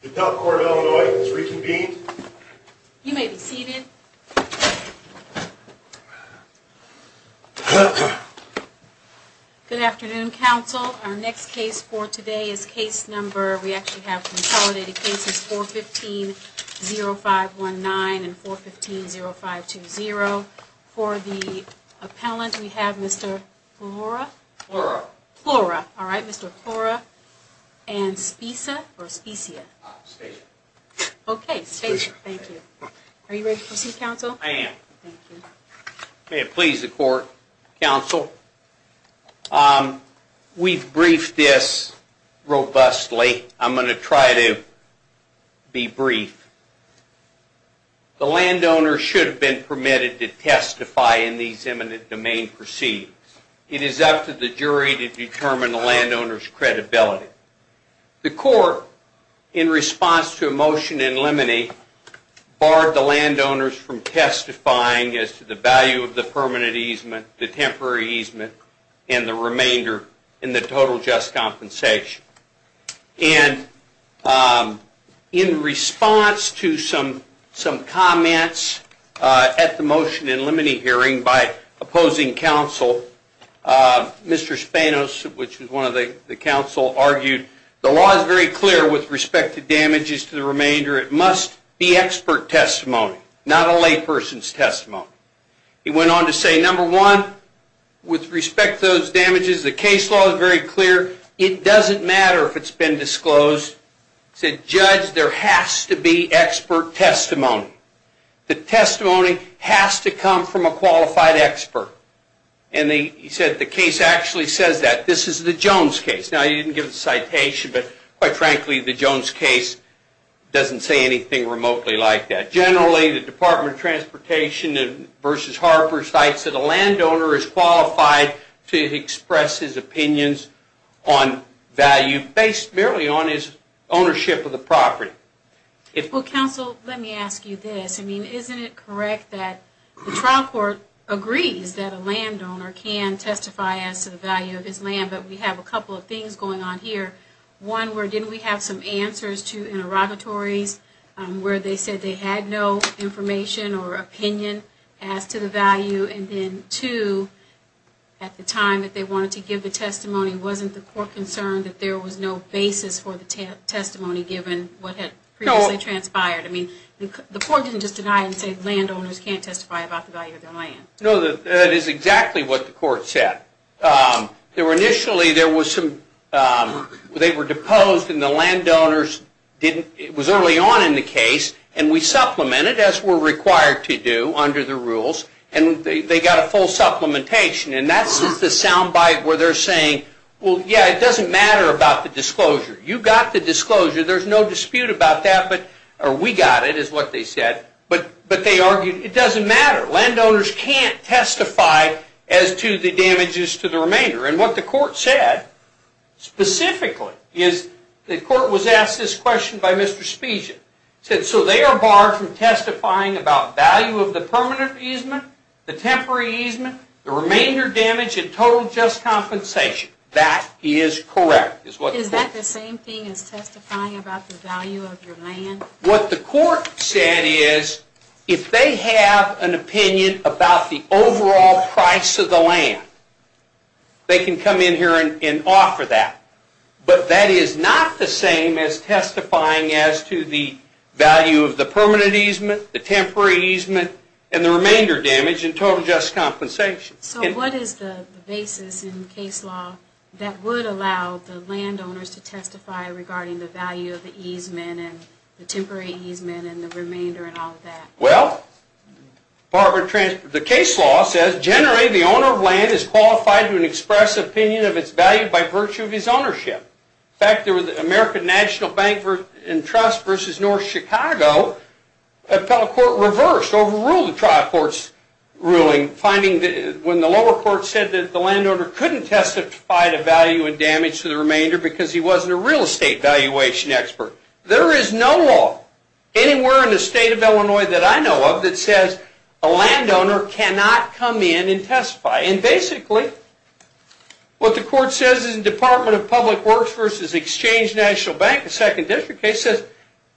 The Appellate Court of Illinois is reconvened. You may be seated. Good afternoon, counsel. Our next case for today is case number... We actually have consolidated cases 415-0519 and 415-0520. For the appellant, we have Mr. Flora... Flora. Flora. Alright, Mr. Flora. And Spisa or Spesia? Spesia. Okay, Spesia. Thank you. Are you ready to proceed, counsel? I am. Thank you. May it please the court. Counsel, we've briefed this robustly. I'm going to try to be brief. The landowner should have been permitted to testify in these imminent domain proceedings. It is up to the jury to determine the landowner's credibility. The court, in response to a motion in limine, barred the landowners from testifying as to the value of the permanent easement, the temporary easement, and the remainder in the total just compensation. And in response to some comments at the motion in limine hearing by opposing counsel, Mr. Spanos, which was one of the counsel, argued the law is very clear with respect to damages to the remainder. It must be expert testimony, not a layperson's testimony. He went on to say, number one, with respect to those damages, the case law is very clear. It doesn't matter if it's been disclosed. He said, judge, there has to be expert testimony. The testimony has to come from a qualified expert. And he said the case actually says that. This is the Jones case. Now, he didn't give the citation, but quite frankly, the Jones case doesn't say anything remotely like that. Generally, the Department of Transportation v. Harper cites that a landowner is qualified to express his opinions on value based merely on his ownership of the property. Well, counsel, let me ask you this. I mean, isn't it correct that the trial court agrees that a landowner can testify as to the value of his land, but we have a couple of things going on here. One, where didn't we have some answers to interrogatories where they said they had no information or opinion as to the value, and then two, at the time that they wanted to give the testimony, wasn't the court concerned that there was no basis for the testimony given what had previously transpired? I mean, the court didn't just deny and say landowners can't testify about the value of their land. No, that is exactly what the court said. Initially, they were deposed, and the landowners didn't. It was early on in the case, and we supplemented, as we're required to do under the rules, and they got a full supplementation. And that's the sound bite where they're saying, well, yeah, it doesn't matter about the disclosure. You got the disclosure. There's no dispute about that, or we got it is what they said, but they argued it doesn't matter. Landowners can't testify as to the damages to the remainder, and what the court said specifically is the court was asked this question by Mr. Spezia. It said, so they are barred from testifying about value of the permanent easement, the temporary easement, the remainder damage, and total just compensation. That is correct. Is that the same thing as testifying about the value of your land? What the court said is if they have an opinion about the overall price of the land, they can come in here and offer that, but that is not the same as testifying as to the value of the permanent easement, the temporary easement, and the remainder damage, and total just compensation. So what is the basis in case law that would allow the landowners to testify regarding the value of the easement and the temporary easement and the remainder and all of that? Well, the case law says generally the owner of land is qualified to express opinion of its value by virtue of his ownership. In fact, there was an American National Bank and Trust versus North Chicago appellate court reversed, overruled the trial court's ruling, when the lower court said that the landowner couldn't testify to value and damage to the remainder because he wasn't a real estate valuation expert. There is no law anywhere in the state of Illinois that I know of that says a landowner cannot come in and testify, and basically what the court says in the Department of Public Works versus Exchange National Bank, the second district case, is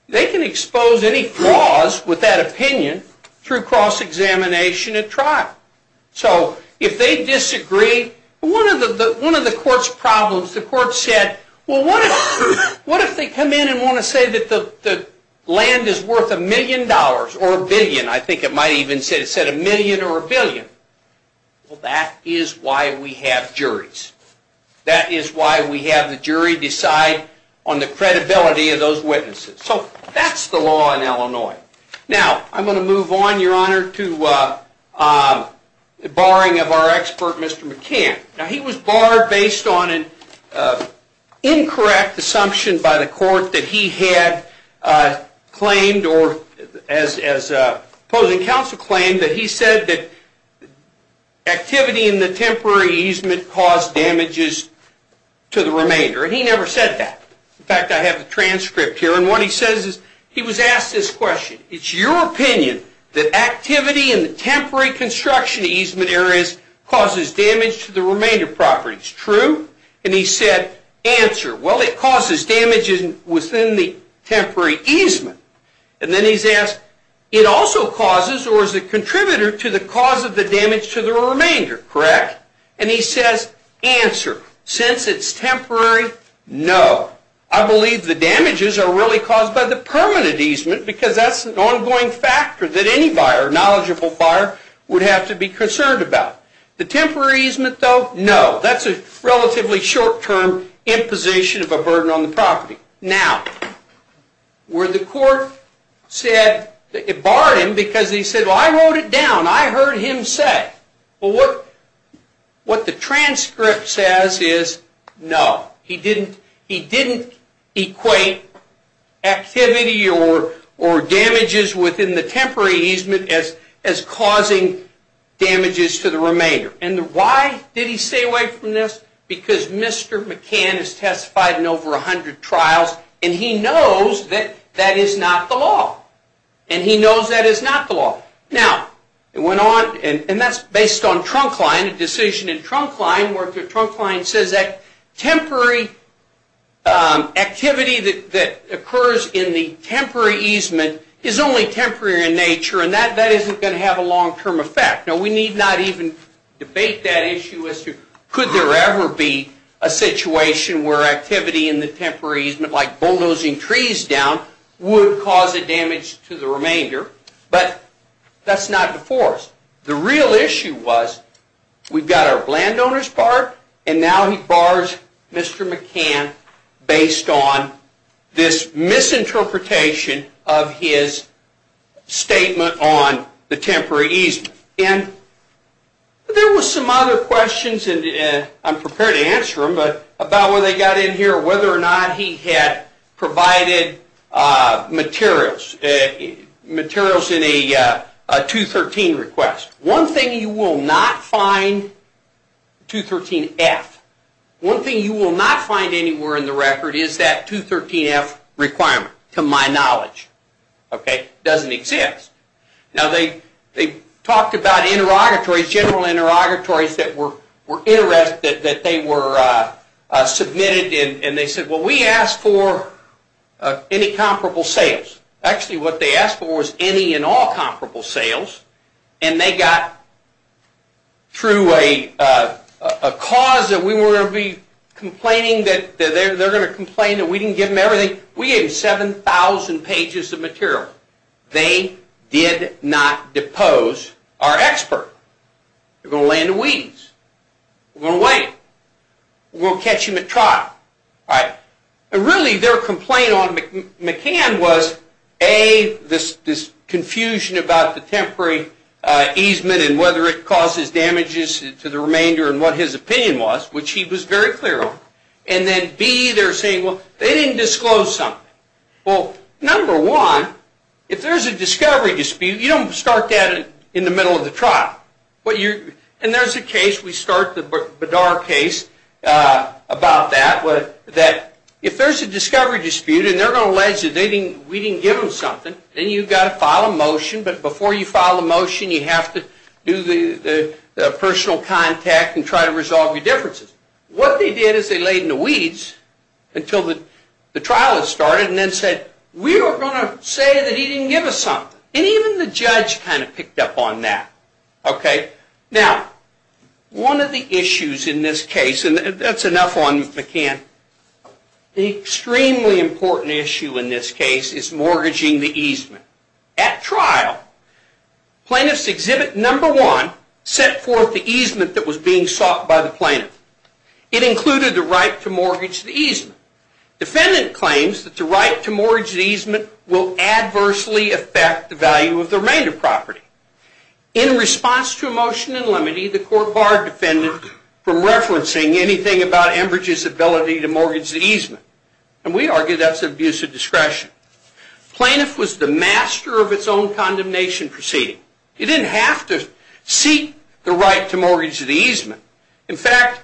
they can expose any flaws with that opinion through cross-examination at trial. So if they disagree, one of the court's problems, the court said, well, what if they come in and want to say that the land is worth a million dollars or a billion? I think it might even say a million or a billion. Well, that is why we have juries. That is why we have the jury decide on the credibility of those witnesses. So that's the law in Illinois. Now I'm going to move on, Your Honor, to the barring of our expert, Mr. McCann. Now he was barred based on an incorrect assumption by the court that he had claimed or as opposing counsel claimed that he said that activity in the temporary easement caused damages to the remainder, and he never said that. In fact, I have a transcript here, and what he says is he was asked this question. It's your opinion that activity in the temporary construction easement areas causes damage to the remainder property. It's true. And he said, answer, well, it causes damage within the temporary easement. And then he's asked, it also causes or is a contributor to the cause of the remainder, correct? And he says, answer, since it's temporary, no. I believe the damages are really caused by the permanent easement because that's an ongoing factor that any buyer, knowledgeable buyer, would have to be concerned about. The temporary easement, though, no. That's a relatively short-term imposition of a burden on the property. Now, where the court said it barred him because he said, well, I wrote it down. I heard him say, well, what the transcript says is no. He didn't equate activity or damages within the temporary easement as causing damages to the remainder. And why did he stay away from this? Because Mr. McCann has testified in over a hundred trials, and he knows that that is not the law. And he knows that is not the law. Now, it went on, and that's based on Trunkline, a decision in Trunkline where Trunkline says that temporary activity that occurs in the temporary easement is only temporary in nature, and that isn't going to have a long-term effect. Now, we need not even debate that issue as to could there ever be a situation where activity in the temporary easement, like bulldozing trees down, would cause a damage to the remainder. But that's not before us. The real issue was we've got our landowner's part, and now he bars Mr. McCann based on this misinterpretation of his statement on the temporary easement. And there were some other questions, and I'm prepared to answer them, but about when they got in here, whether or not he had provided materials in a 213 request. One thing you will not find, 213F, one thing you will not find anywhere in the record is that 213F requirement, to my knowledge. Okay? It doesn't exist. Now, they talked about interrogatories, general interrogatories that were submitted, and they said, well, we asked for any comparable sales. Actually, what they asked for was any and all comparable sales, and they got through a cause that we were going to be complaining that they're going to complain that we didn't give them everything. We gave them 7,000 pages of material. They did not depose our expert. They're going to lay in the weeds. We're going to wait. We'll catch him at trial. All right? And really, their complaint on McCann was, A, this confusion about the temporary easement and whether it causes damages to the remainder and what his opinion was, which he was very clear on, and then, B, they're saying, well, they didn't disclose something. Well, number one, if there's a discovery dispute, you don't start that in the middle of the trial. And there's a case, we start the Bedar case about that, that if there's a discovery dispute and they're going to allege that we didn't give them something, then you've got to file a motion. But before you file a motion, you have to do the personal contact and try to resolve your differences. What they did is they laid in the weeds until the trial had started and then said, we were going to say that he didn't give us something. And even the judge kind of picked up on that. Okay? Now, one of the issues in this case, and that's enough on McCann, the extremely important issue in this case is mortgaging the easement. At trial, plaintiff's exhibit number one set forth the easement that was being sought by the plaintiff. It included the right to mortgage the easement. Defendant claims that the right to mortgage the easement will adversely affect the value of the remainder property. In response to a motion in limine, the court barred defendant from referencing anything about Enbridge's ability to mortgage the easement. And we argue that's an abuse of discretion. Plaintiff was the master of its own condemnation proceeding. He didn't have to seek the right to mortgage the easement. In fact,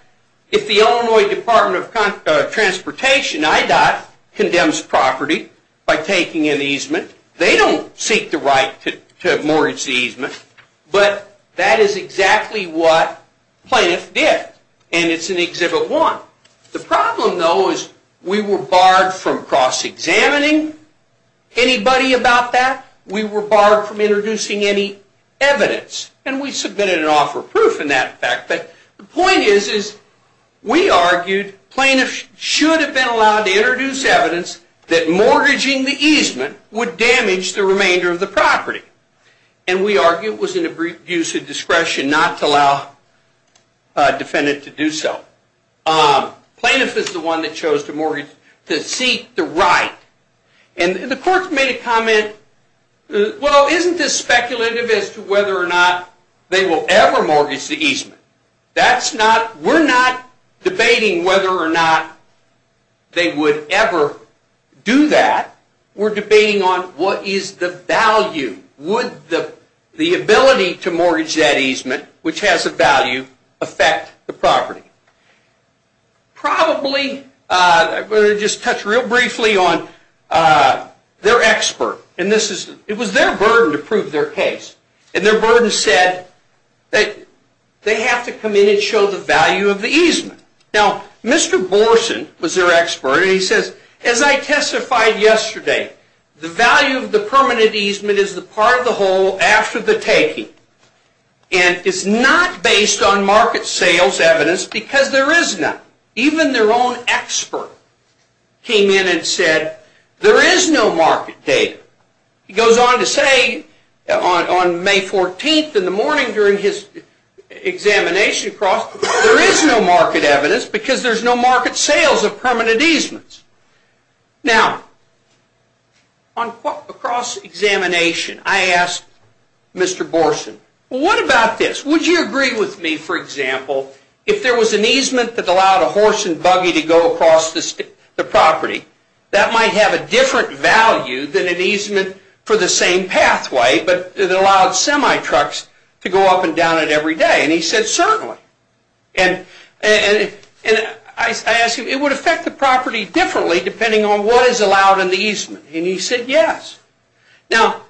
if the Illinois Department of Transportation, IDOT, condemns property by taking an easement, they don't seek the right to mortgage the easement. But that is exactly what plaintiff did. And it's in exhibit one. The problem, though, is we were barred from cross-examining anybody about that. We were barred from introducing any evidence. And we submitted an offer of proof in that fact. But the point is we argued plaintiff should have been allowed to introduce evidence that mortgaging the easement would damage the remainder of the property. And we argue it was an abuse of discretion not to allow a defendant to do so. Plaintiff is the one that chose to mortgage, to seek the right. And the court made a comment, well, isn't this speculative as to whether or not they will ever mortgage the easement? We're not debating whether or not they would ever do that. We're debating on what is the value. Would the ability to mortgage that easement, which has a value, affect the property? Probably, I'm going to just touch real briefly on their expert. It was their burden to prove their case. And their burden said that they have to come in and show the value of the easement. Now, Mr. Borson was their expert. And he says, as I testified yesterday, the value of the permanent easement is the part of the whole after the taking. And it's not based on market sales evidence because there is none. Even their own expert came in and said there is no market data. He goes on to say on May 14th in the morning during his examination across, there is no market evidence because there's no market sales of permanent easements. Now, across examination, I asked Mr. Borson, what about this? Would you agree with me, for example, if there was an easement that allowed a horse and buggy to go across the property, that might have a different value than an easement for the same pathway, but it allowed semi-trucks to go up and down it every day? And he said, certainly. And I asked him, it would affect the property differently depending on what is allowed in the easement? And he said, yes. Now,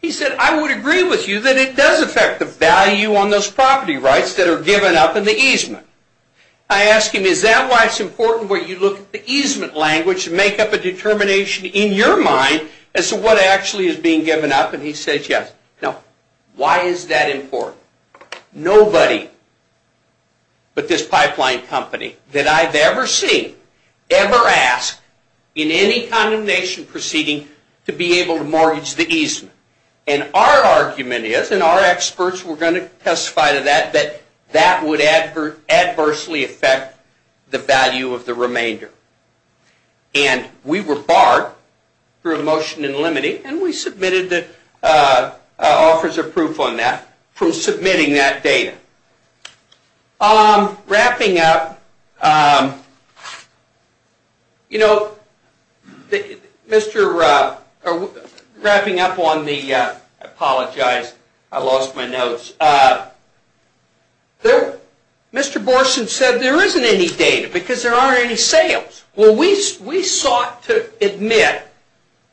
he said, I would agree with you that it does affect the value on those property rights that are given up in the easement. I asked him, is that why it's important where you look at the easement language to make up a determination in your mind as to what actually is being given up? And he said, yes. Now, why is that important? Nobody but this pipeline company that I've ever seen ever asked in any condemnation proceeding to be able to mortgage the easement. And our argument is, and our experts were going to testify to that, that that would adversely affect the value of the remainder. And we were barred through a motion in limiting, and we submitted offers of proof on that from submitting that data. Wrapping up on the, I apologize, I lost my notes. Mr. Borson said there isn't any data because there aren't any sales. Well, we sought to admit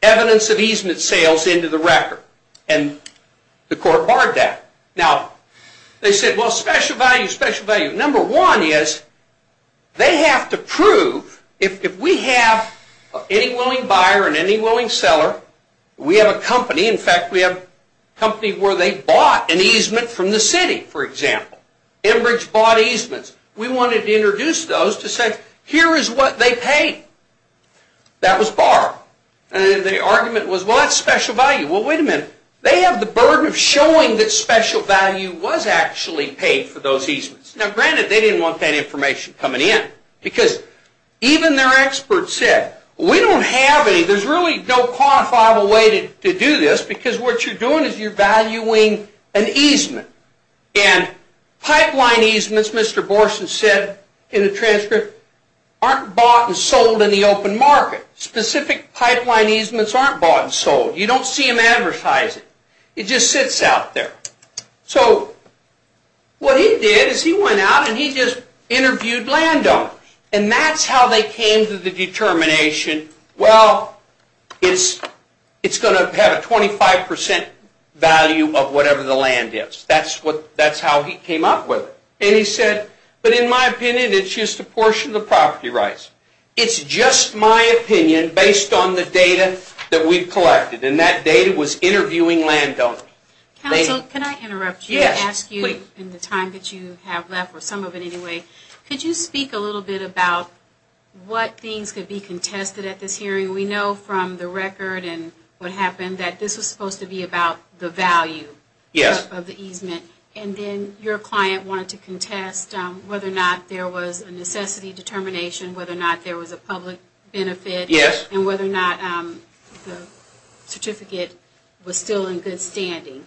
evidence of easement sales into the record, and the court barred that. Now, they said, well, special value, special value. Number one is they have to prove if we have any willing buyer and any willing seller, we have a company. In fact, we have a company where they bought an easement from the city, for example. Enbridge bought easements. We wanted to introduce those to say, here is what they paid. That was barred. Well, wait a minute. They have the burden of showing that special value was actually paid for Now, granted, they didn't want that information coming in because even their experts said, we don't have any. There's really no quantifiable way to do this because what you're doing is you're valuing an easement. And pipeline easements, Mr. Borson said in the transcript, aren't bought and sold in the open market. Specific pipeline easements aren't bought and sold. You don't see him advertise it. It just sits out there. So what he did is he went out and he just interviewed landowners. And that's how they came to the determination, well, it's going to have a 25% value of whatever the land is. That's how he came up with it. And he said, but in my opinion, it's just a portion of the property rights. It's just my opinion based on the data that we've collected. And that data was interviewing landowners. Counsel, can I interrupt you and ask you in the time that you have left, or some of it anyway, could you speak a little bit about what things could be contested at this hearing? We know from the record and what happened that this was supposed to be about the value of the easement. And then your client wanted to contest whether or not there was a necessity determination, whether or not there was a public benefit. Yes. And whether or not the certificate was still in good standing.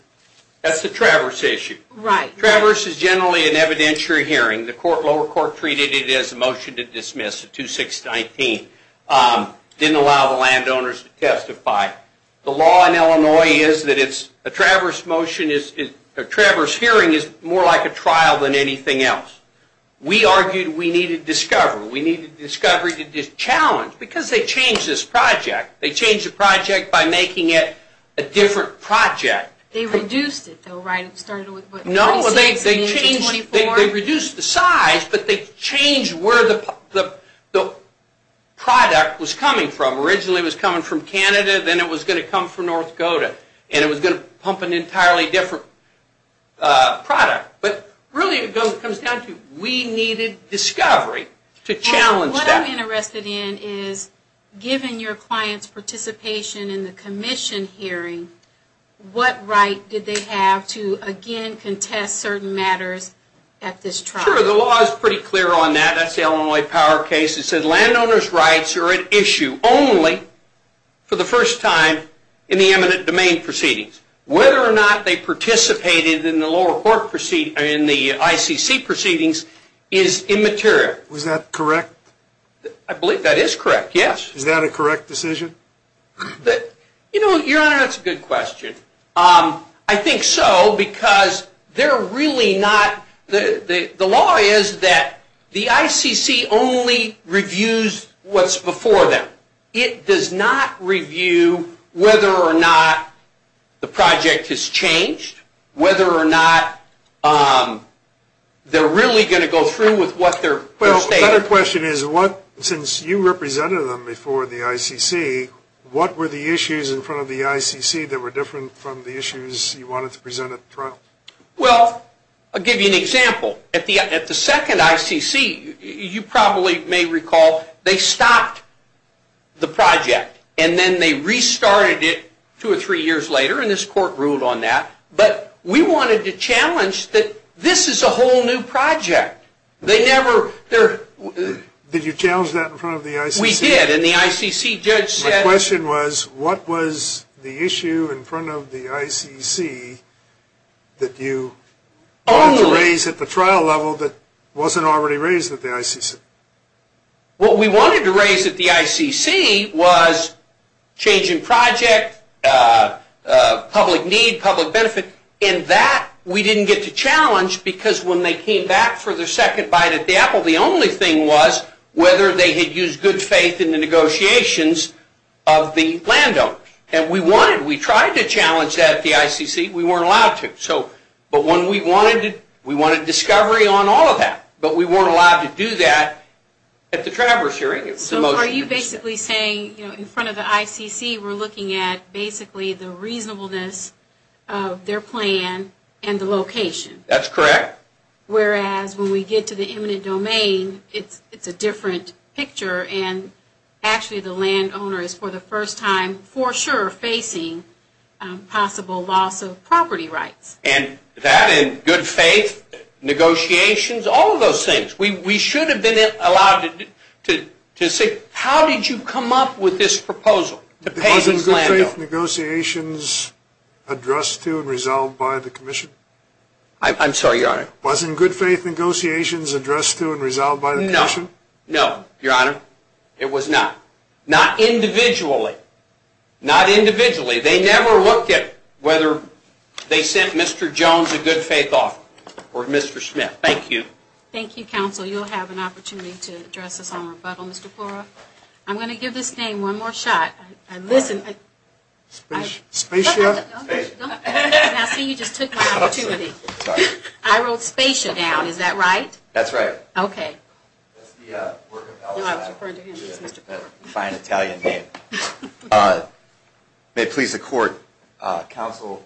That's the Traverse issue. Right. Traverse is generally an evidentiary hearing. The lower court treated it as a motion to dismiss at 2-6-19. Didn't allow the landowners to testify. The law in Illinois is that a Traverse hearing is more like a trial than anything else. We argued we needed discovery. We needed discovery to challenge. Because they changed this project. They changed the project by making it a different project. They reduced it, though, right? It started with, what, 36 and then 24? No, they changed. They reduced the size, but they changed where the product was coming from. Originally it was coming from Canada. Then it was going to come from North Dakota. And it was going to pump an entirely different product. But really it comes down to we needed discovery to challenge that. What I'm interested in is, given your client's participation in the commission hearing, what right did they have to, again, contest certain matters at this trial? Sure. The law is pretty clear on that. That's the Illinois Power case. It said landowner's rights are at issue only for the first time in the eminent domain proceedings. Whether or not they participated in the lower court proceedings, in the ICC proceedings, is immaterial. Was that correct? I believe that is correct, yes. Is that a correct decision? You know, Your Honor, that's a good question. I think so because they're really not, the law is that the ICC only reviews what's before them. It does not review whether or not the project has changed, whether or not they're really going to go through with what they're stating. Well, another question is, since you represented them before the ICC, what were the issues in front of the ICC that were different from the issues you wanted to present at the trial? Well, I'll give you an example. At the second ICC, you probably may recall, they stopped the project and then they restarted it two or three years later, and this court ruled on that. But we wanted to challenge that this is a whole new project. They never, they're... Did you challenge that in front of the ICC? We did, and the ICC judge said... My question was, what was the issue in front of the ICC that you wanted to raise at the trial level that wasn't already raised at the ICC? What we wanted to raise at the ICC was change in project, public need, public benefit, and that we didn't get to challenge because when they came back for their second bite at the apple, the only thing was whether they had used good faith in the negotiations of the land owner. And we wanted, we tried to challenge that at the ICC. We weren't allowed to. But when we wanted, we wanted discovery on all of that, but we weren't allowed to do that at the traverse hearing. So are you basically saying in front of the ICC we're looking at basically the reasonableness of their plan and the location? That's correct. Whereas when we get to the eminent domain, it's a different picture and actually the land owner is for the first time for sure facing possible loss of property rights. And that and good faith negotiations, all of those things. We should have been allowed to say how did you come up with this proposal to pay this land owner? Wasn't good faith negotiations addressed to and resolved by the commission? I'm sorry, Your Honor. Wasn't good faith negotiations addressed to and resolved by the commission? No, Your Honor. It was not. Not individually. Not individually. They never looked at whether they sent Mr. Jones a good faith offer or Mr. Schmidt. Thank you. Thank you, counsel. You'll have an opportunity to address us on rebuttal. Mr. Porra, I'm going to give this name one more shot. Listen. Spacia? No. I see you just took my opportunity. I wrote Spacia down. Is that right? That's right. Okay. No, I was referring to him. It's Mr. Porra. Fine Italian name. May it please the court, counsel,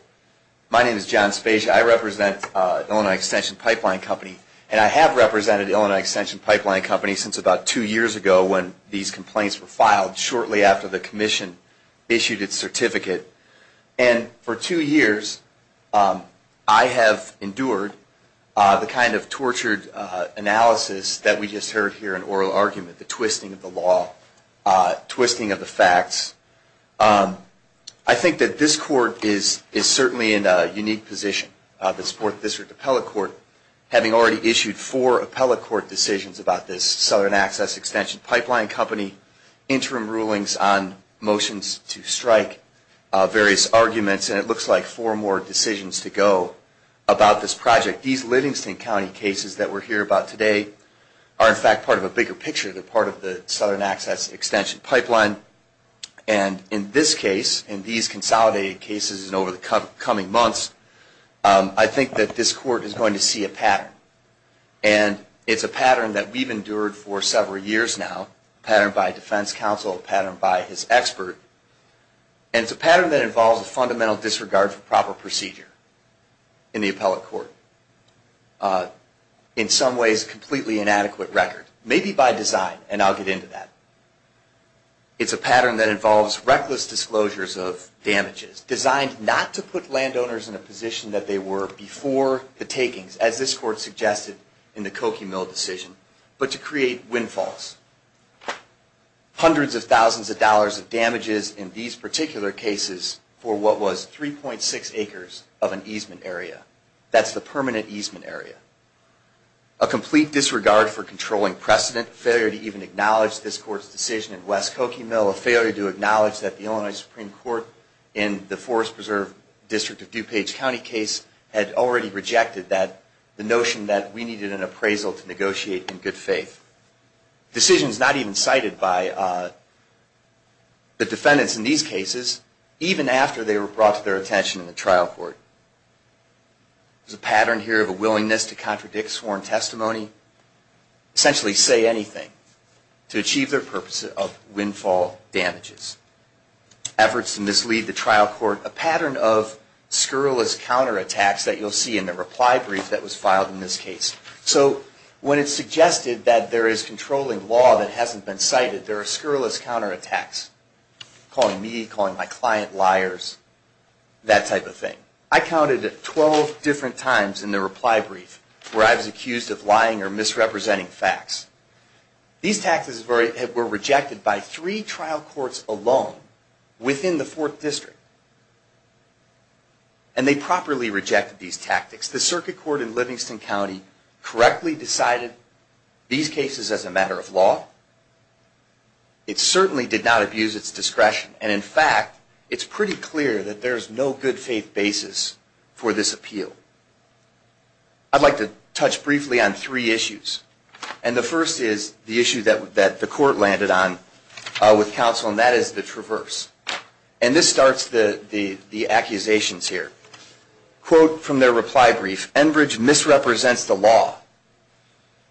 my name is John Spacia. I represent Illinois Extension Pipeline Company, and I have represented Illinois Extension Pipeline Company since about two years ago when these complaints were filed shortly after the commission issued its certificate. And for two years, I have endured the kind of tortured analysis that we just heard here in oral argument, the twisting of the law, twisting of the facts. I think that this court is certainly in a unique position, this Fourth District Appellate Court, having already issued four appellate court decisions about this Southern Access Extension Pipeline Company and four interim rulings on motions to strike, various arguments, and it looks like four more decisions to go about this project. These Livingston County cases that we're hearing about today are, in fact, part of a bigger picture. They're part of the Southern Access Extension Pipeline. And in this case, in these consolidated cases and over the coming months, and it's a pattern that we've endured for several years now, a pattern by defense counsel, a pattern by his expert, and it's a pattern that involves a fundamental disregard for proper procedure in the appellate court, in some ways a completely inadequate record, maybe by design, and I'll get into that. It's a pattern that involves reckless disclosures of damages, designed not to put landowners in a position that they were before the takings, as this court suggested in the Cokie Mill decision, but to create windfalls. Hundreds of thousands of dollars of damages in these particular cases for what was 3.6 acres of an easement area. That's the permanent easement area. A complete disregard for controlling precedent, failure to even acknowledge this court's decision in West Cokie Mill, a failure to acknowledge that the Illinois Supreme Court in the Forest Preserve District of DuPage County case had already rejected the notion that we needed an appraisal to negotiate in good faith. Decisions not even cited by the defendants in these cases, even after they were brought to their attention in the trial court. There's a pattern here of a willingness to contradict sworn testimony, essentially say anything, to achieve their purpose of windfall damages. Efforts to mislead the trial court. A pattern of scurrilous counterattacks that you'll see in the reply brief that was filed in this case. So when it's suggested that there is controlling law that hasn't been cited, there are scurrilous counterattacks. Calling me, calling my client liars, that type of thing. I counted 12 different times in the reply brief where I was accused of lying or misrepresenting facts. These tactics were rejected by three trial courts alone within the 4th District. And they properly rejected these tactics. The circuit court in Livingston County correctly decided these cases as a matter of law. It certainly did not abuse its discretion. And in fact, it's pretty clear that there's no good faith basis for this appeal. I'd like to touch briefly on three issues. And the first is the issue that the court landed on with counsel, and that is the traverse. And this starts the accusations here. Quote from their reply brief, Enbridge misrepresents the law.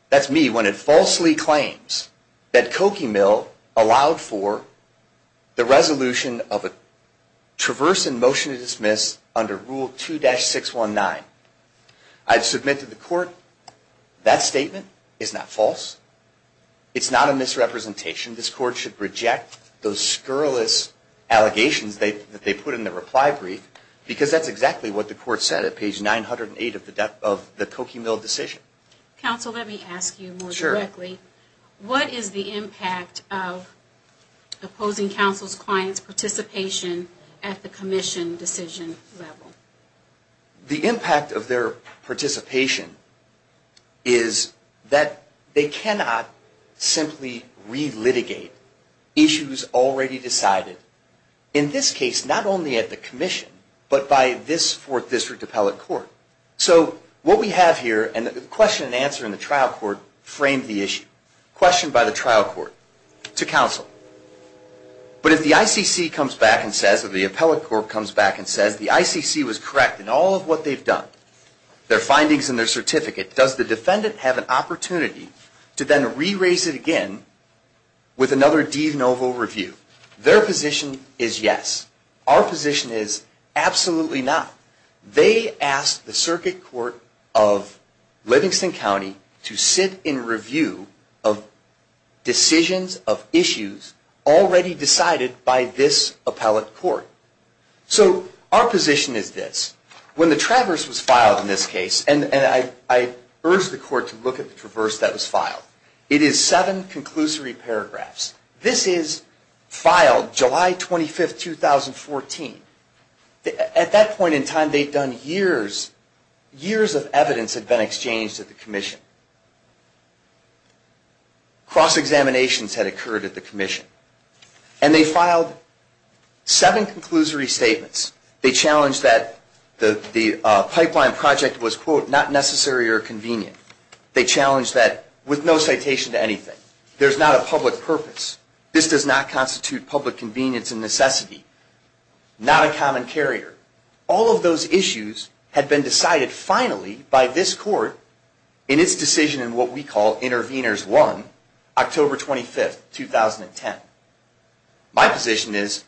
That's me, when it falsely claims that Cokie Mill allowed for the resolution of a traverse in motion to dismiss under Rule 2-619. I've submitted to the court that statement is not false. It's not a misrepresentation. This court should reject those scurrilous allegations that they put in the reply brief because that's exactly what the court said at page 908 of the Cokie Mill decision. Counsel, let me ask you more directly. What is the impact of opposing counsel's client's participation at the commission decision level? The impact of their participation is that they cannot simply relitigate issues already decided, in this case, not only at the commission, but by this Fourth District appellate court. So what we have here, and the question and answer in the trial court framed the issue, questioned by the trial court to counsel. But if the ICC comes back and says, or the appellate court comes back and says, the ICC was correct in all of what they've done, their findings and their certificate, does the defendant have an opportunity to then re-raise it again with another de novo review? Their position is yes. Our position is absolutely not. They asked the circuit court of Livingston County to sit in review of decisions of issues already decided by this appellate court. So our position is this. When the Traverse was filed in this case, and I urge the court to look at the Traverse that was filed, it is seven conclusory paragraphs. This is filed July 25, 2014. At that point in time, they'd done years, years of evidence had been exchanged at the commission. Cross-examinations had occurred at the commission. And they filed seven conclusory statements. They challenged that the pipeline project was, quote, not necessary or convenient. They challenged that with no citation to anything. There's not a public purpose. This does not constitute public convenience and necessity. Not a common carrier. All of those issues had been decided finally by this court in its decision in what we call Intervenors 1, October 25, 2010. My position is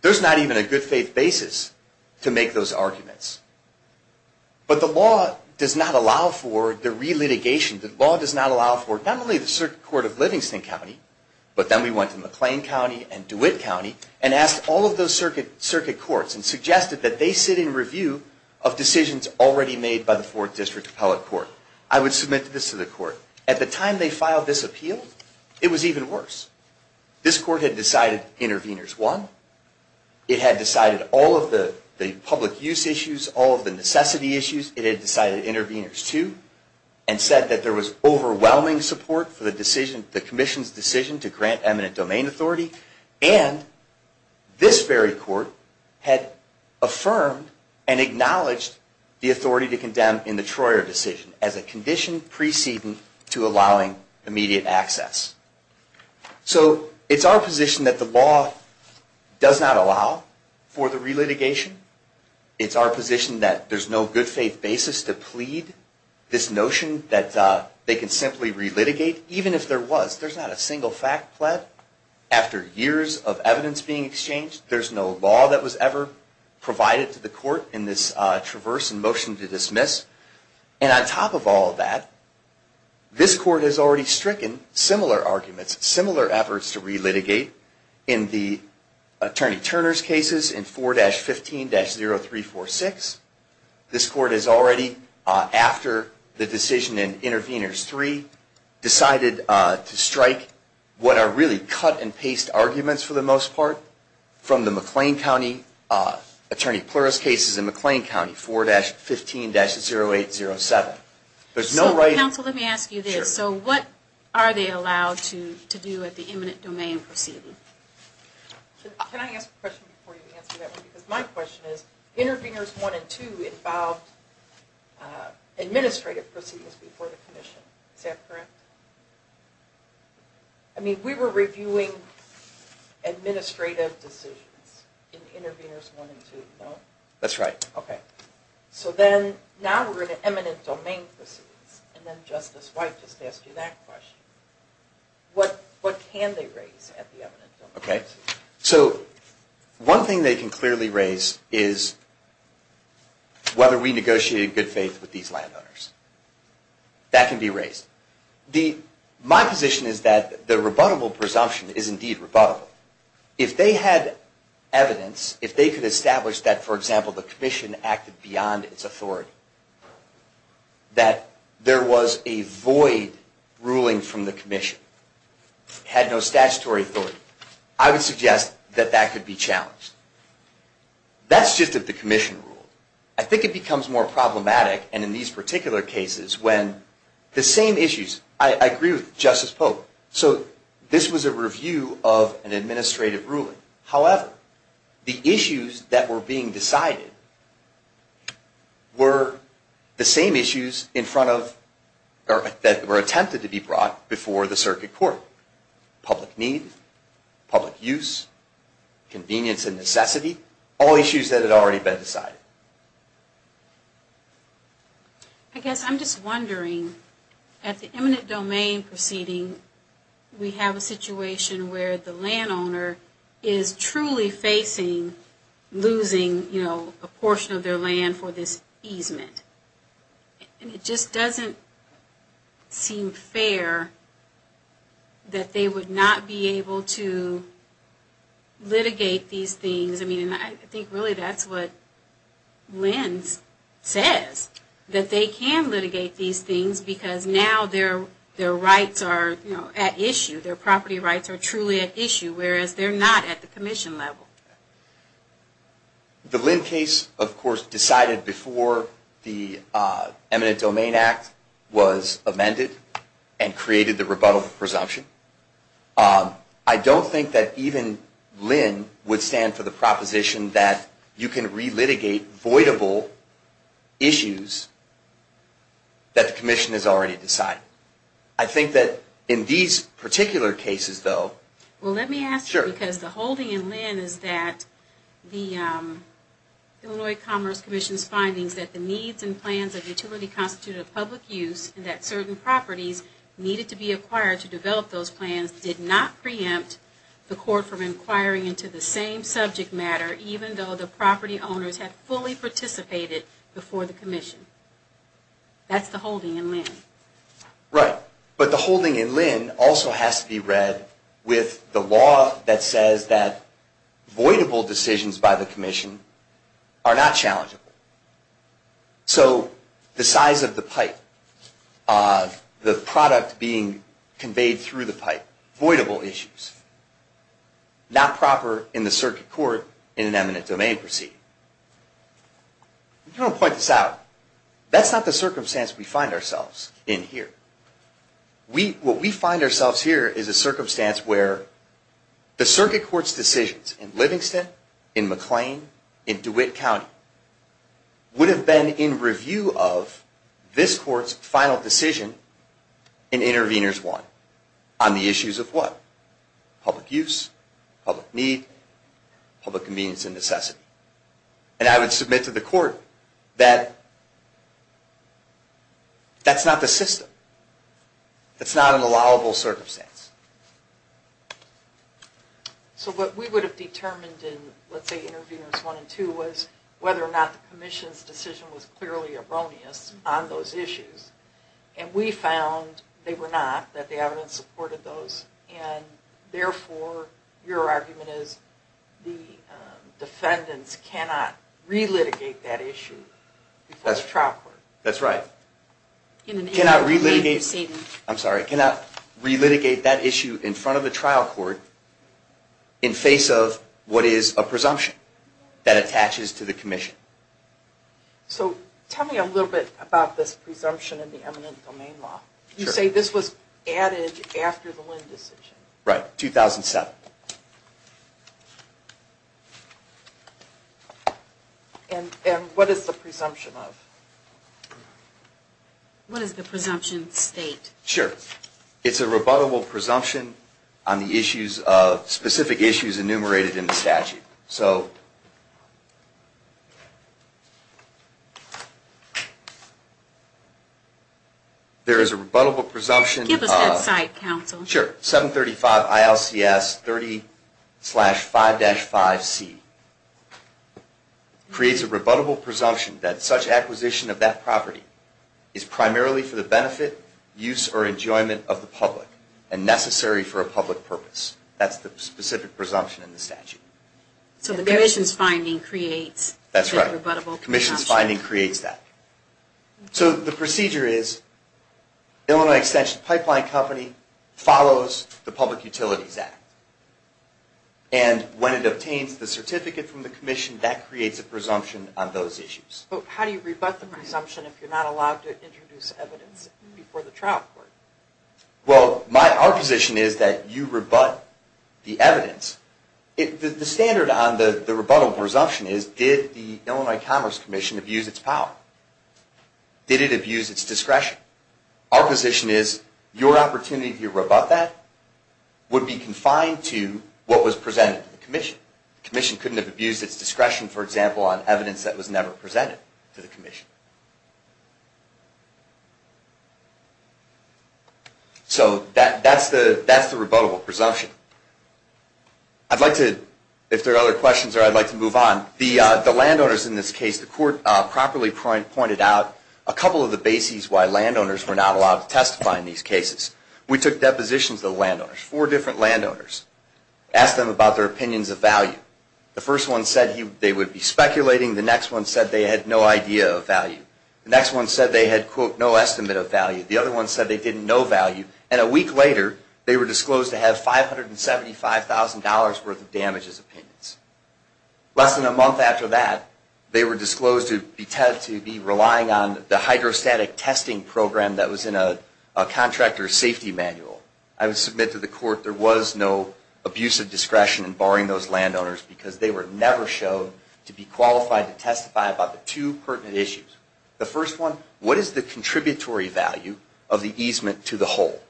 there's not even a good faith basis to make those arguments. But the law does not allow for the relitigation. The law does not allow for not only the circuit court of Livingston County, but then we went to McLean County and DeWitt County and asked all of those circuit courts and suggested that they sit in review of decisions already made by the Fourth District Appellate Court. I would submit this to the court. At the time they filed this appeal, it was even worse. This court had decided Intervenors 1. It had decided all of the public use issues, all of the necessity issues. It had decided Intervenors 2 and said that there was overwhelming support for the decision, the commission's decision to grant eminent domain authority. And this very court had affirmed and acknowledged the authority to condemn in the Troyer decision as a condition preceding to allowing immediate access. So it's our position that the law does not allow for the relitigation. It's our position that there's no good faith basis to plead this notion that they can simply relitigate, even if there was. There's not a single fact pled after years of evidence being exchanged. There's no law that was ever provided to the court in this traverse and motion to dismiss. And on top of all that, this court has already stricken similar arguments, similar efforts to relitigate in the Attorney Turner's cases in 4-15-0346. This court has already, after the decision in Intervenors 3, decided to strike what are really cut-and-paste arguments, for the most part, from the McLean County Attorney Pleuris cases in McLean County, 4-15-0807. There's no right... Counsel, let me ask you this. Sure. So what are they allowed to do at the eminent domain proceeding? Can I ask a question before you answer that one? Because my question is, Intervenors 1 and 2 involved administrative proceedings before the commission. Is that correct? I mean, we were reviewing administrative decisions in Intervenors 1 and 2, no? That's right. Okay. So then, now we're in an eminent domain proceedings. And then Justice White just asked you that question. What can they raise at the eminent domain? Okay. So one thing they can clearly raise is whether we negotiated in good faith with these landowners. That can be raised. My position is that the rebuttable presumption is indeed rebuttable. If they had evidence, if they could establish that, for example, the commission acted beyond its authority, that there was a void ruling from the commission, had no statutory authority, I would suggest that that could be challenged. That's just if the commission ruled. I think it becomes more problematic, and in these particular cases, when the same issues... I agree with Justice Polk. So this was a review of an administrative ruling. However, the issues that were being decided were the same issues in front of... that were attempted to be brought before the circuit court. Public need, public use, convenience and necessity, all issues that had already been decided. I guess I'm just wondering, at the eminent domain proceeding, we have a situation where the landowner is truly facing losing, you know, a portion of their land for this easement. And it just doesn't seem fair that they would not be able to litigate these things. I mean, I think really that's what LENDS says, that they can litigate these things, because now their rights are at issue. Their property rights are truly at issue, whereas they're not at the commission level. The LEND case, of course, decided before the eminent domain act was amended, and created the rebuttal presumption. I don't think that even LEND would stand for the proposition that you can re-litigate voidable issues that the commission has already decided. I think that in these particular cases, though... Well, let me ask you, because the holding in LEND is that the Illinois Commerce Commission's findings that the needs and plans of utility constituted of public use, and that certain properties needed to be acquired to develop those plans, did not preempt the court from inquiring into the same subject matter, even though the property owners had fully participated before the commission. That's the holding in LEND. Right. But the holding in LEND also has to be read with the law that says that voidable decisions by the commission are not challengeable. So, the size of the pipe, the product being conveyed through the pipe, voidable issues. Not proper in the circuit court in an eminent domain proceeding. I want to point this out. That's not the circumstance we find ourselves in here. What we find ourselves here is a circumstance where the circuit court's decisions in Livingston, in McLean, in DeWitt County, would have been in review of this court's final decision in Interveners 1. On the issues of what? Public use, public need, public convenience and necessity. And I would submit to the court that that's not the system. That's not an allowable circumstance. So, what we would have determined in, let's say, Interveners 1 and 2, was whether or not the commission's decision was clearly erroneous on those issues. And we found they were not, that the evidence supported those. And, therefore, your argument is the defendants cannot re-litigate that issue in front of the trial court. That's right. Cannot re-litigate that issue in front of the trial court in face of what is a presumption that attaches to the commission. So, tell me a little bit about this presumption in the eminent domain law. You say this was added after the Lynn decision. Right, 2007. And what is the presumption of? What is the presumption state? Sure. It's a rebuttable presumption on the specific issues enumerated in the statute. So, there is a rebuttable presumption. Give us that cite, counsel. Sure. 735 ILCS 30-5-5C creates a rebuttable presumption that such acquisition of that property is primarily for the benefit, use, or enjoyment of the public and necessary for a public purpose. That's the specific presumption in the statute. So, the commission's finding creates that rebuttable presumption. That's right. The commission's finding creates that. So, the procedure is Illinois Extension Pipeline Company follows the Public Utilities Act. And when it obtains the certificate from the commission, that creates a presumption on those issues. But how do you rebut the presumption if you're not allowed to introduce evidence before the trial court? Well, our position is that you rebut the evidence. The standard on the rebuttable presumption is did the Illinois Commerce Commission abuse its power? Did it abuse its discretion? Our position is your opportunity to rebut that would be confined to what was presented to the commission. The commission couldn't have abused its discretion, for example, on evidence that was never presented to the commission. So, that's the rebuttable presumption. I'd like to, if there are other questions, I'd like to move on. The landowners in this case, the court properly pointed out a couple of the bases why landowners were not allowed to testify in these cases. We took depositions of landowners, four different landowners, asked them about their opinions of value. The first one said they would be speculating. The next one said they had no idea of value. The next one said they had, quote, no estimate of value. The other one said they didn't know value. And a week later, they were disclosed to have $575,000 worth of damages opinions. Less than a month after that, they were disclosed to be relying on the hydrostatic testing program that was in a contractor's safety manual. I would submit to the court there was no abuse of discretion in barring those landowners because they were never shown to be qualified to testify about the two pertinent issues. The first one, what is the contributory value of the easement to the whole?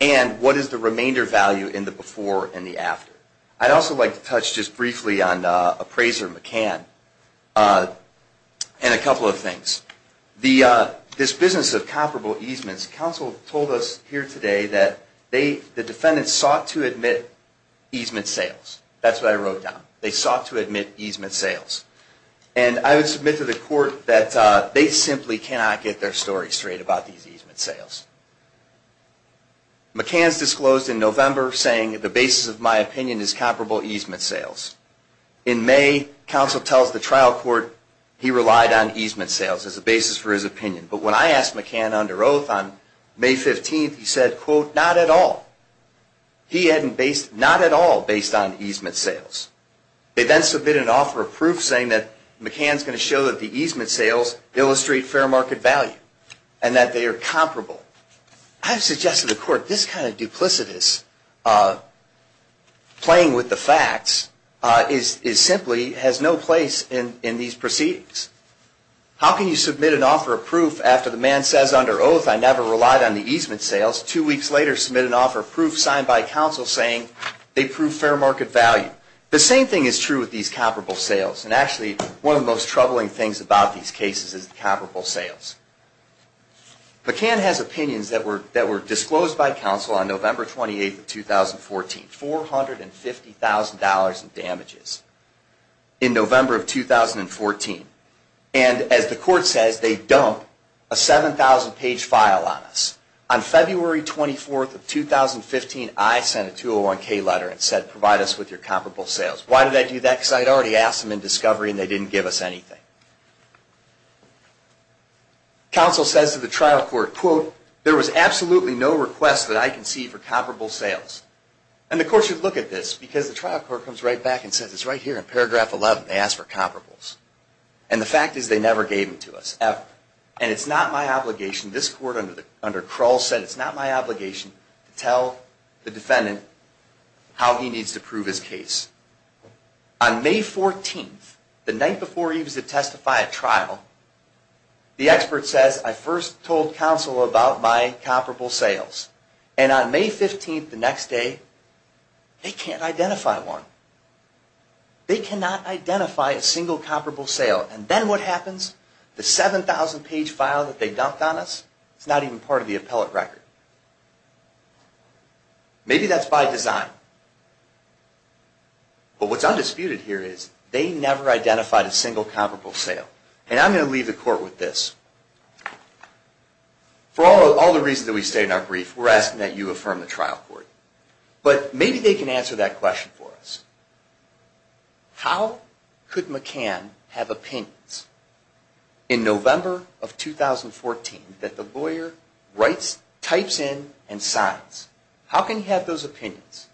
And what is the remainder value in the before and the after? I'd also like to touch just briefly on appraiser McCann and a couple of things. This business of comparable easements, counsel told us here today that the defendants sought to admit easement sales. That's what I wrote down. They sought to admit easement sales. And I would submit to the court that they simply cannot get their story straight about these easement sales. McCann's disclosed in November saying the basis of my opinion is comparable easement sales. In May, counsel tells the trial court he relied on easement sales as a basis for his opinion. But when I asked McCann under oath on May 15th, he said, quote, not at all. He hadn't based, not at all based on easement sales. They then submitted an offer of proof saying that McCann's going to show that the easement sales illustrate fair market value and that they are comparable. I suggested to the court this kind of duplicitous playing with the facts is simply has no place in these proceedings. How can you submit an offer of proof after the man says under oath I never relied on the easement sales? Two weeks later, submit an offer of proof signed by counsel saying they prove fair market value. The same thing is true with these comparable sales. And actually, one of the most troubling things about these cases is the comparable sales. McCann has opinions that were disclosed by counsel on November 28th of 2014. $450,000 in damages in November of 2014. And as the court says, they dumped a 7,000-page file on us. On February 24th of 2015, I sent a 201K letter and said provide us with your comparable sales. Why did I do that? Because I had already asked them in discovery and they didn't give us anything. Counsel says to the trial court, quote, there was absolutely no request that I can see for comparable sales. And the court should look at this because the trial court comes right back and says it's right here in paragraph 11. They asked for comparables. And the fact is they never gave them to us. And it's not my obligation. This court under Kroll said it's not my obligation to tell the defendant how he needs to prove his case. On May 14th, the night before he was to testify at trial, the expert says I first told counsel about my comparable sales. And on May 15th, the next day, they can't identify one. They cannot identify a single comparable sale. And then what happens? The 7,000-page file that they dumped on us is not even part of the appellate record. Maybe that's by design. But what's undisputed here is they never identified a single comparable sale. And I'm going to leave the court with this. For all the reasons that we state in our brief, we're asking that you affirm the trial court. But maybe they can answer that question for us. How could McCann have opinions in November of 2014 that the lawyer types in and signs? How can he have those opinions?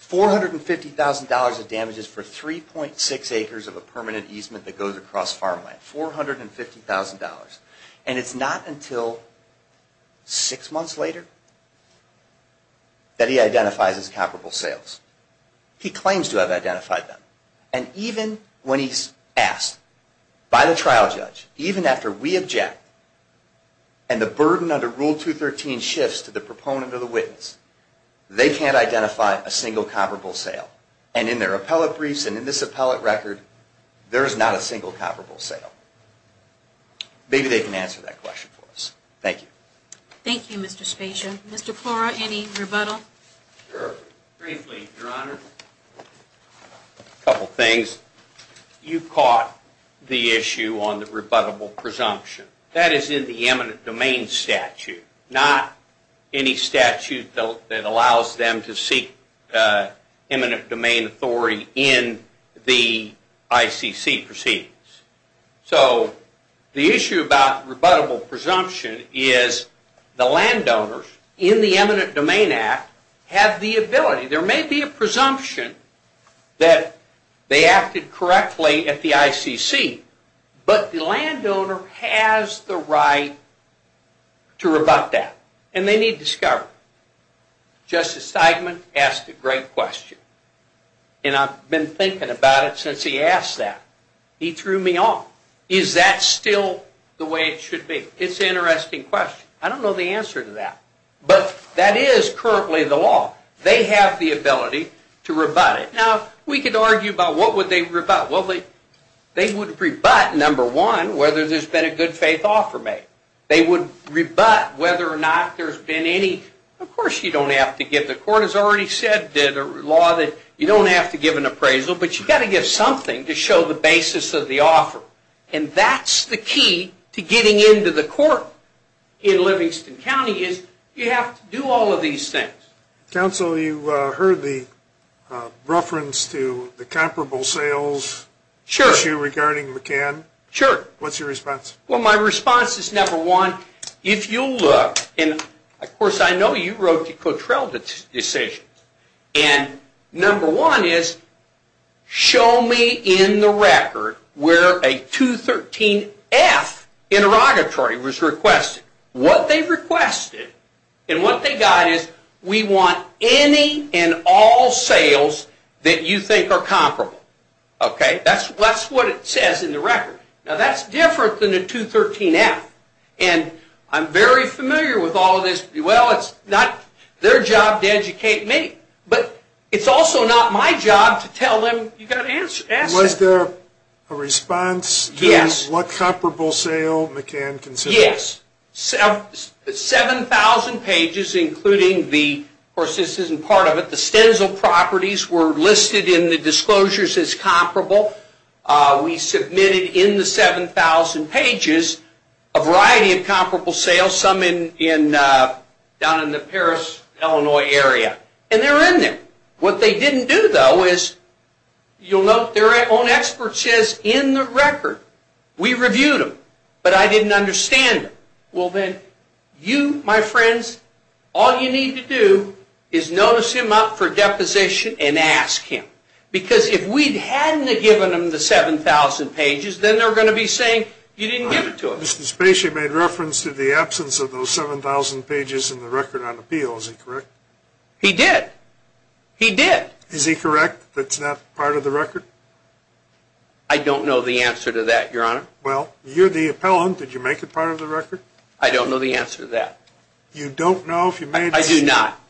$450,000 of damages for 3.6 acres of a permanent easement that goes across farmland. $450,000. And it's not until six months later that he identifies his comparable sales. He claims to have identified them. And even when he's asked by the trial judge, even after we object and the burden under Rule 213 shifts to the proponent or the witness, they can't identify a single comparable sale. And in their appellate briefs and in this appellate record, there is not a single comparable sale. Maybe they can answer that question for us. Thank you. Thank you, Mr. Spezia. Mr. Plora, any rebuttal? Sure. Briefly, Your Honor. A couple things. You caught the issue on the rebuttable presumption. That is in the eminent domain statute. Not any statute that allows them to seek eminent domain authority in the ICC proceedings. So the issue about rebuttable presumption is the landowners in the Eminent Domain Act have the ability. There may be a presumption that they acted correctly at the ICC. But the landowner has the right to rebut that. And they need discovery. Justice Steigman asked a great question. And I've been thinking about it since he asked that. He threw me off. Is that still the way it should be? It's an interesting question. I don't know the answer to that. But that is currently the law. They have the ability to rebut it. Now, we could argue about what would they rebut. Well, they would rebut, number one, whether there's been a good faith offer made. They would rebut whether or not there's been any. Of course, you don't have to give. The court has already said the law that you don't have to give an appraisal. But you've got to give something to show the basis of the offer. And that's the key to getting into the court in Livingston County is you have to do all of these things. Counsel, you heard the reference to the comparable sales issue regarding McCann. Sure. What's your response? Well, my response is, number one, if you look, and, of course, I know you wrote the Cottrell decision. And number one is show me in the record where a 213F interrogatory was requested. What they requested and what they got is we want any and all sales that you think are comparable. Okay? That's what it says in the record. Now, that's different than a 213F. And I'm very familiar with all of this. Well, it's not their job to educate me. But it's also not my job to tell them you've got to answer. Was there a response to what comparable sale McCann considers? Yes. 7,000 pages including the, of course, this isn't part of it, the stencil properties were listed in the disclosures as comparable. We submitted in the 7,000 pages a variety of comparable sales, some down in the Paris, Illinois area. And they're in there. What they didn't do, though, is you'll note their own expert says in the record. We reviewed them. But I didn't understand them. Well, then, you, my friends, all you need to do is notice him up for deposition and ask him. Because if we hadn't have given them the 7,000 pages, then they're going to be saying you didn't give it to us. Mr. Spacey made reference to the absence of those 7,000 pages in the record on appeal. Is he correct? He did. He did. Is he correct that it's not part of the record? I don't know the answer to that, Your Honor. Well, you're the appellant. Did you make it part of the record? I don't know the answer to that. You don't know if you made it? I do not.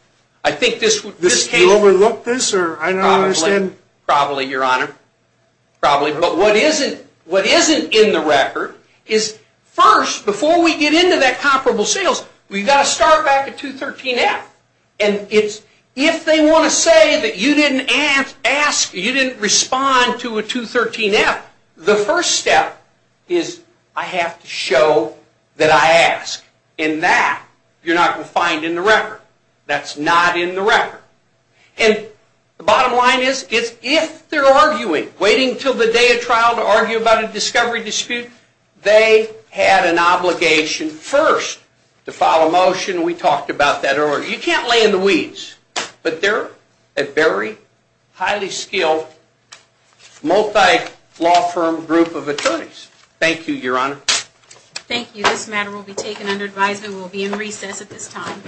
I think this came. Did you overlook this or I don't understand. Probably, Your Honor. Probably. But what isn't in the record is first, before we get into that comparable sales, we've got to start back at 213F. If they want to say that you didn't ask, you didn't respond to a 213F, the first step is I have to show that I asked. And that you're not going to find in the record. That's not in the record. And the bottom line is if they're arguing, waiting until the day of trial to argue about a discovery dispute, You can't lay in the weeds. But they're a very highly skilled, multi-law firm group of attorneys. Thank you, Your Honor. Thank you. This matter will be taken under advisement. We'll be in recess at this time.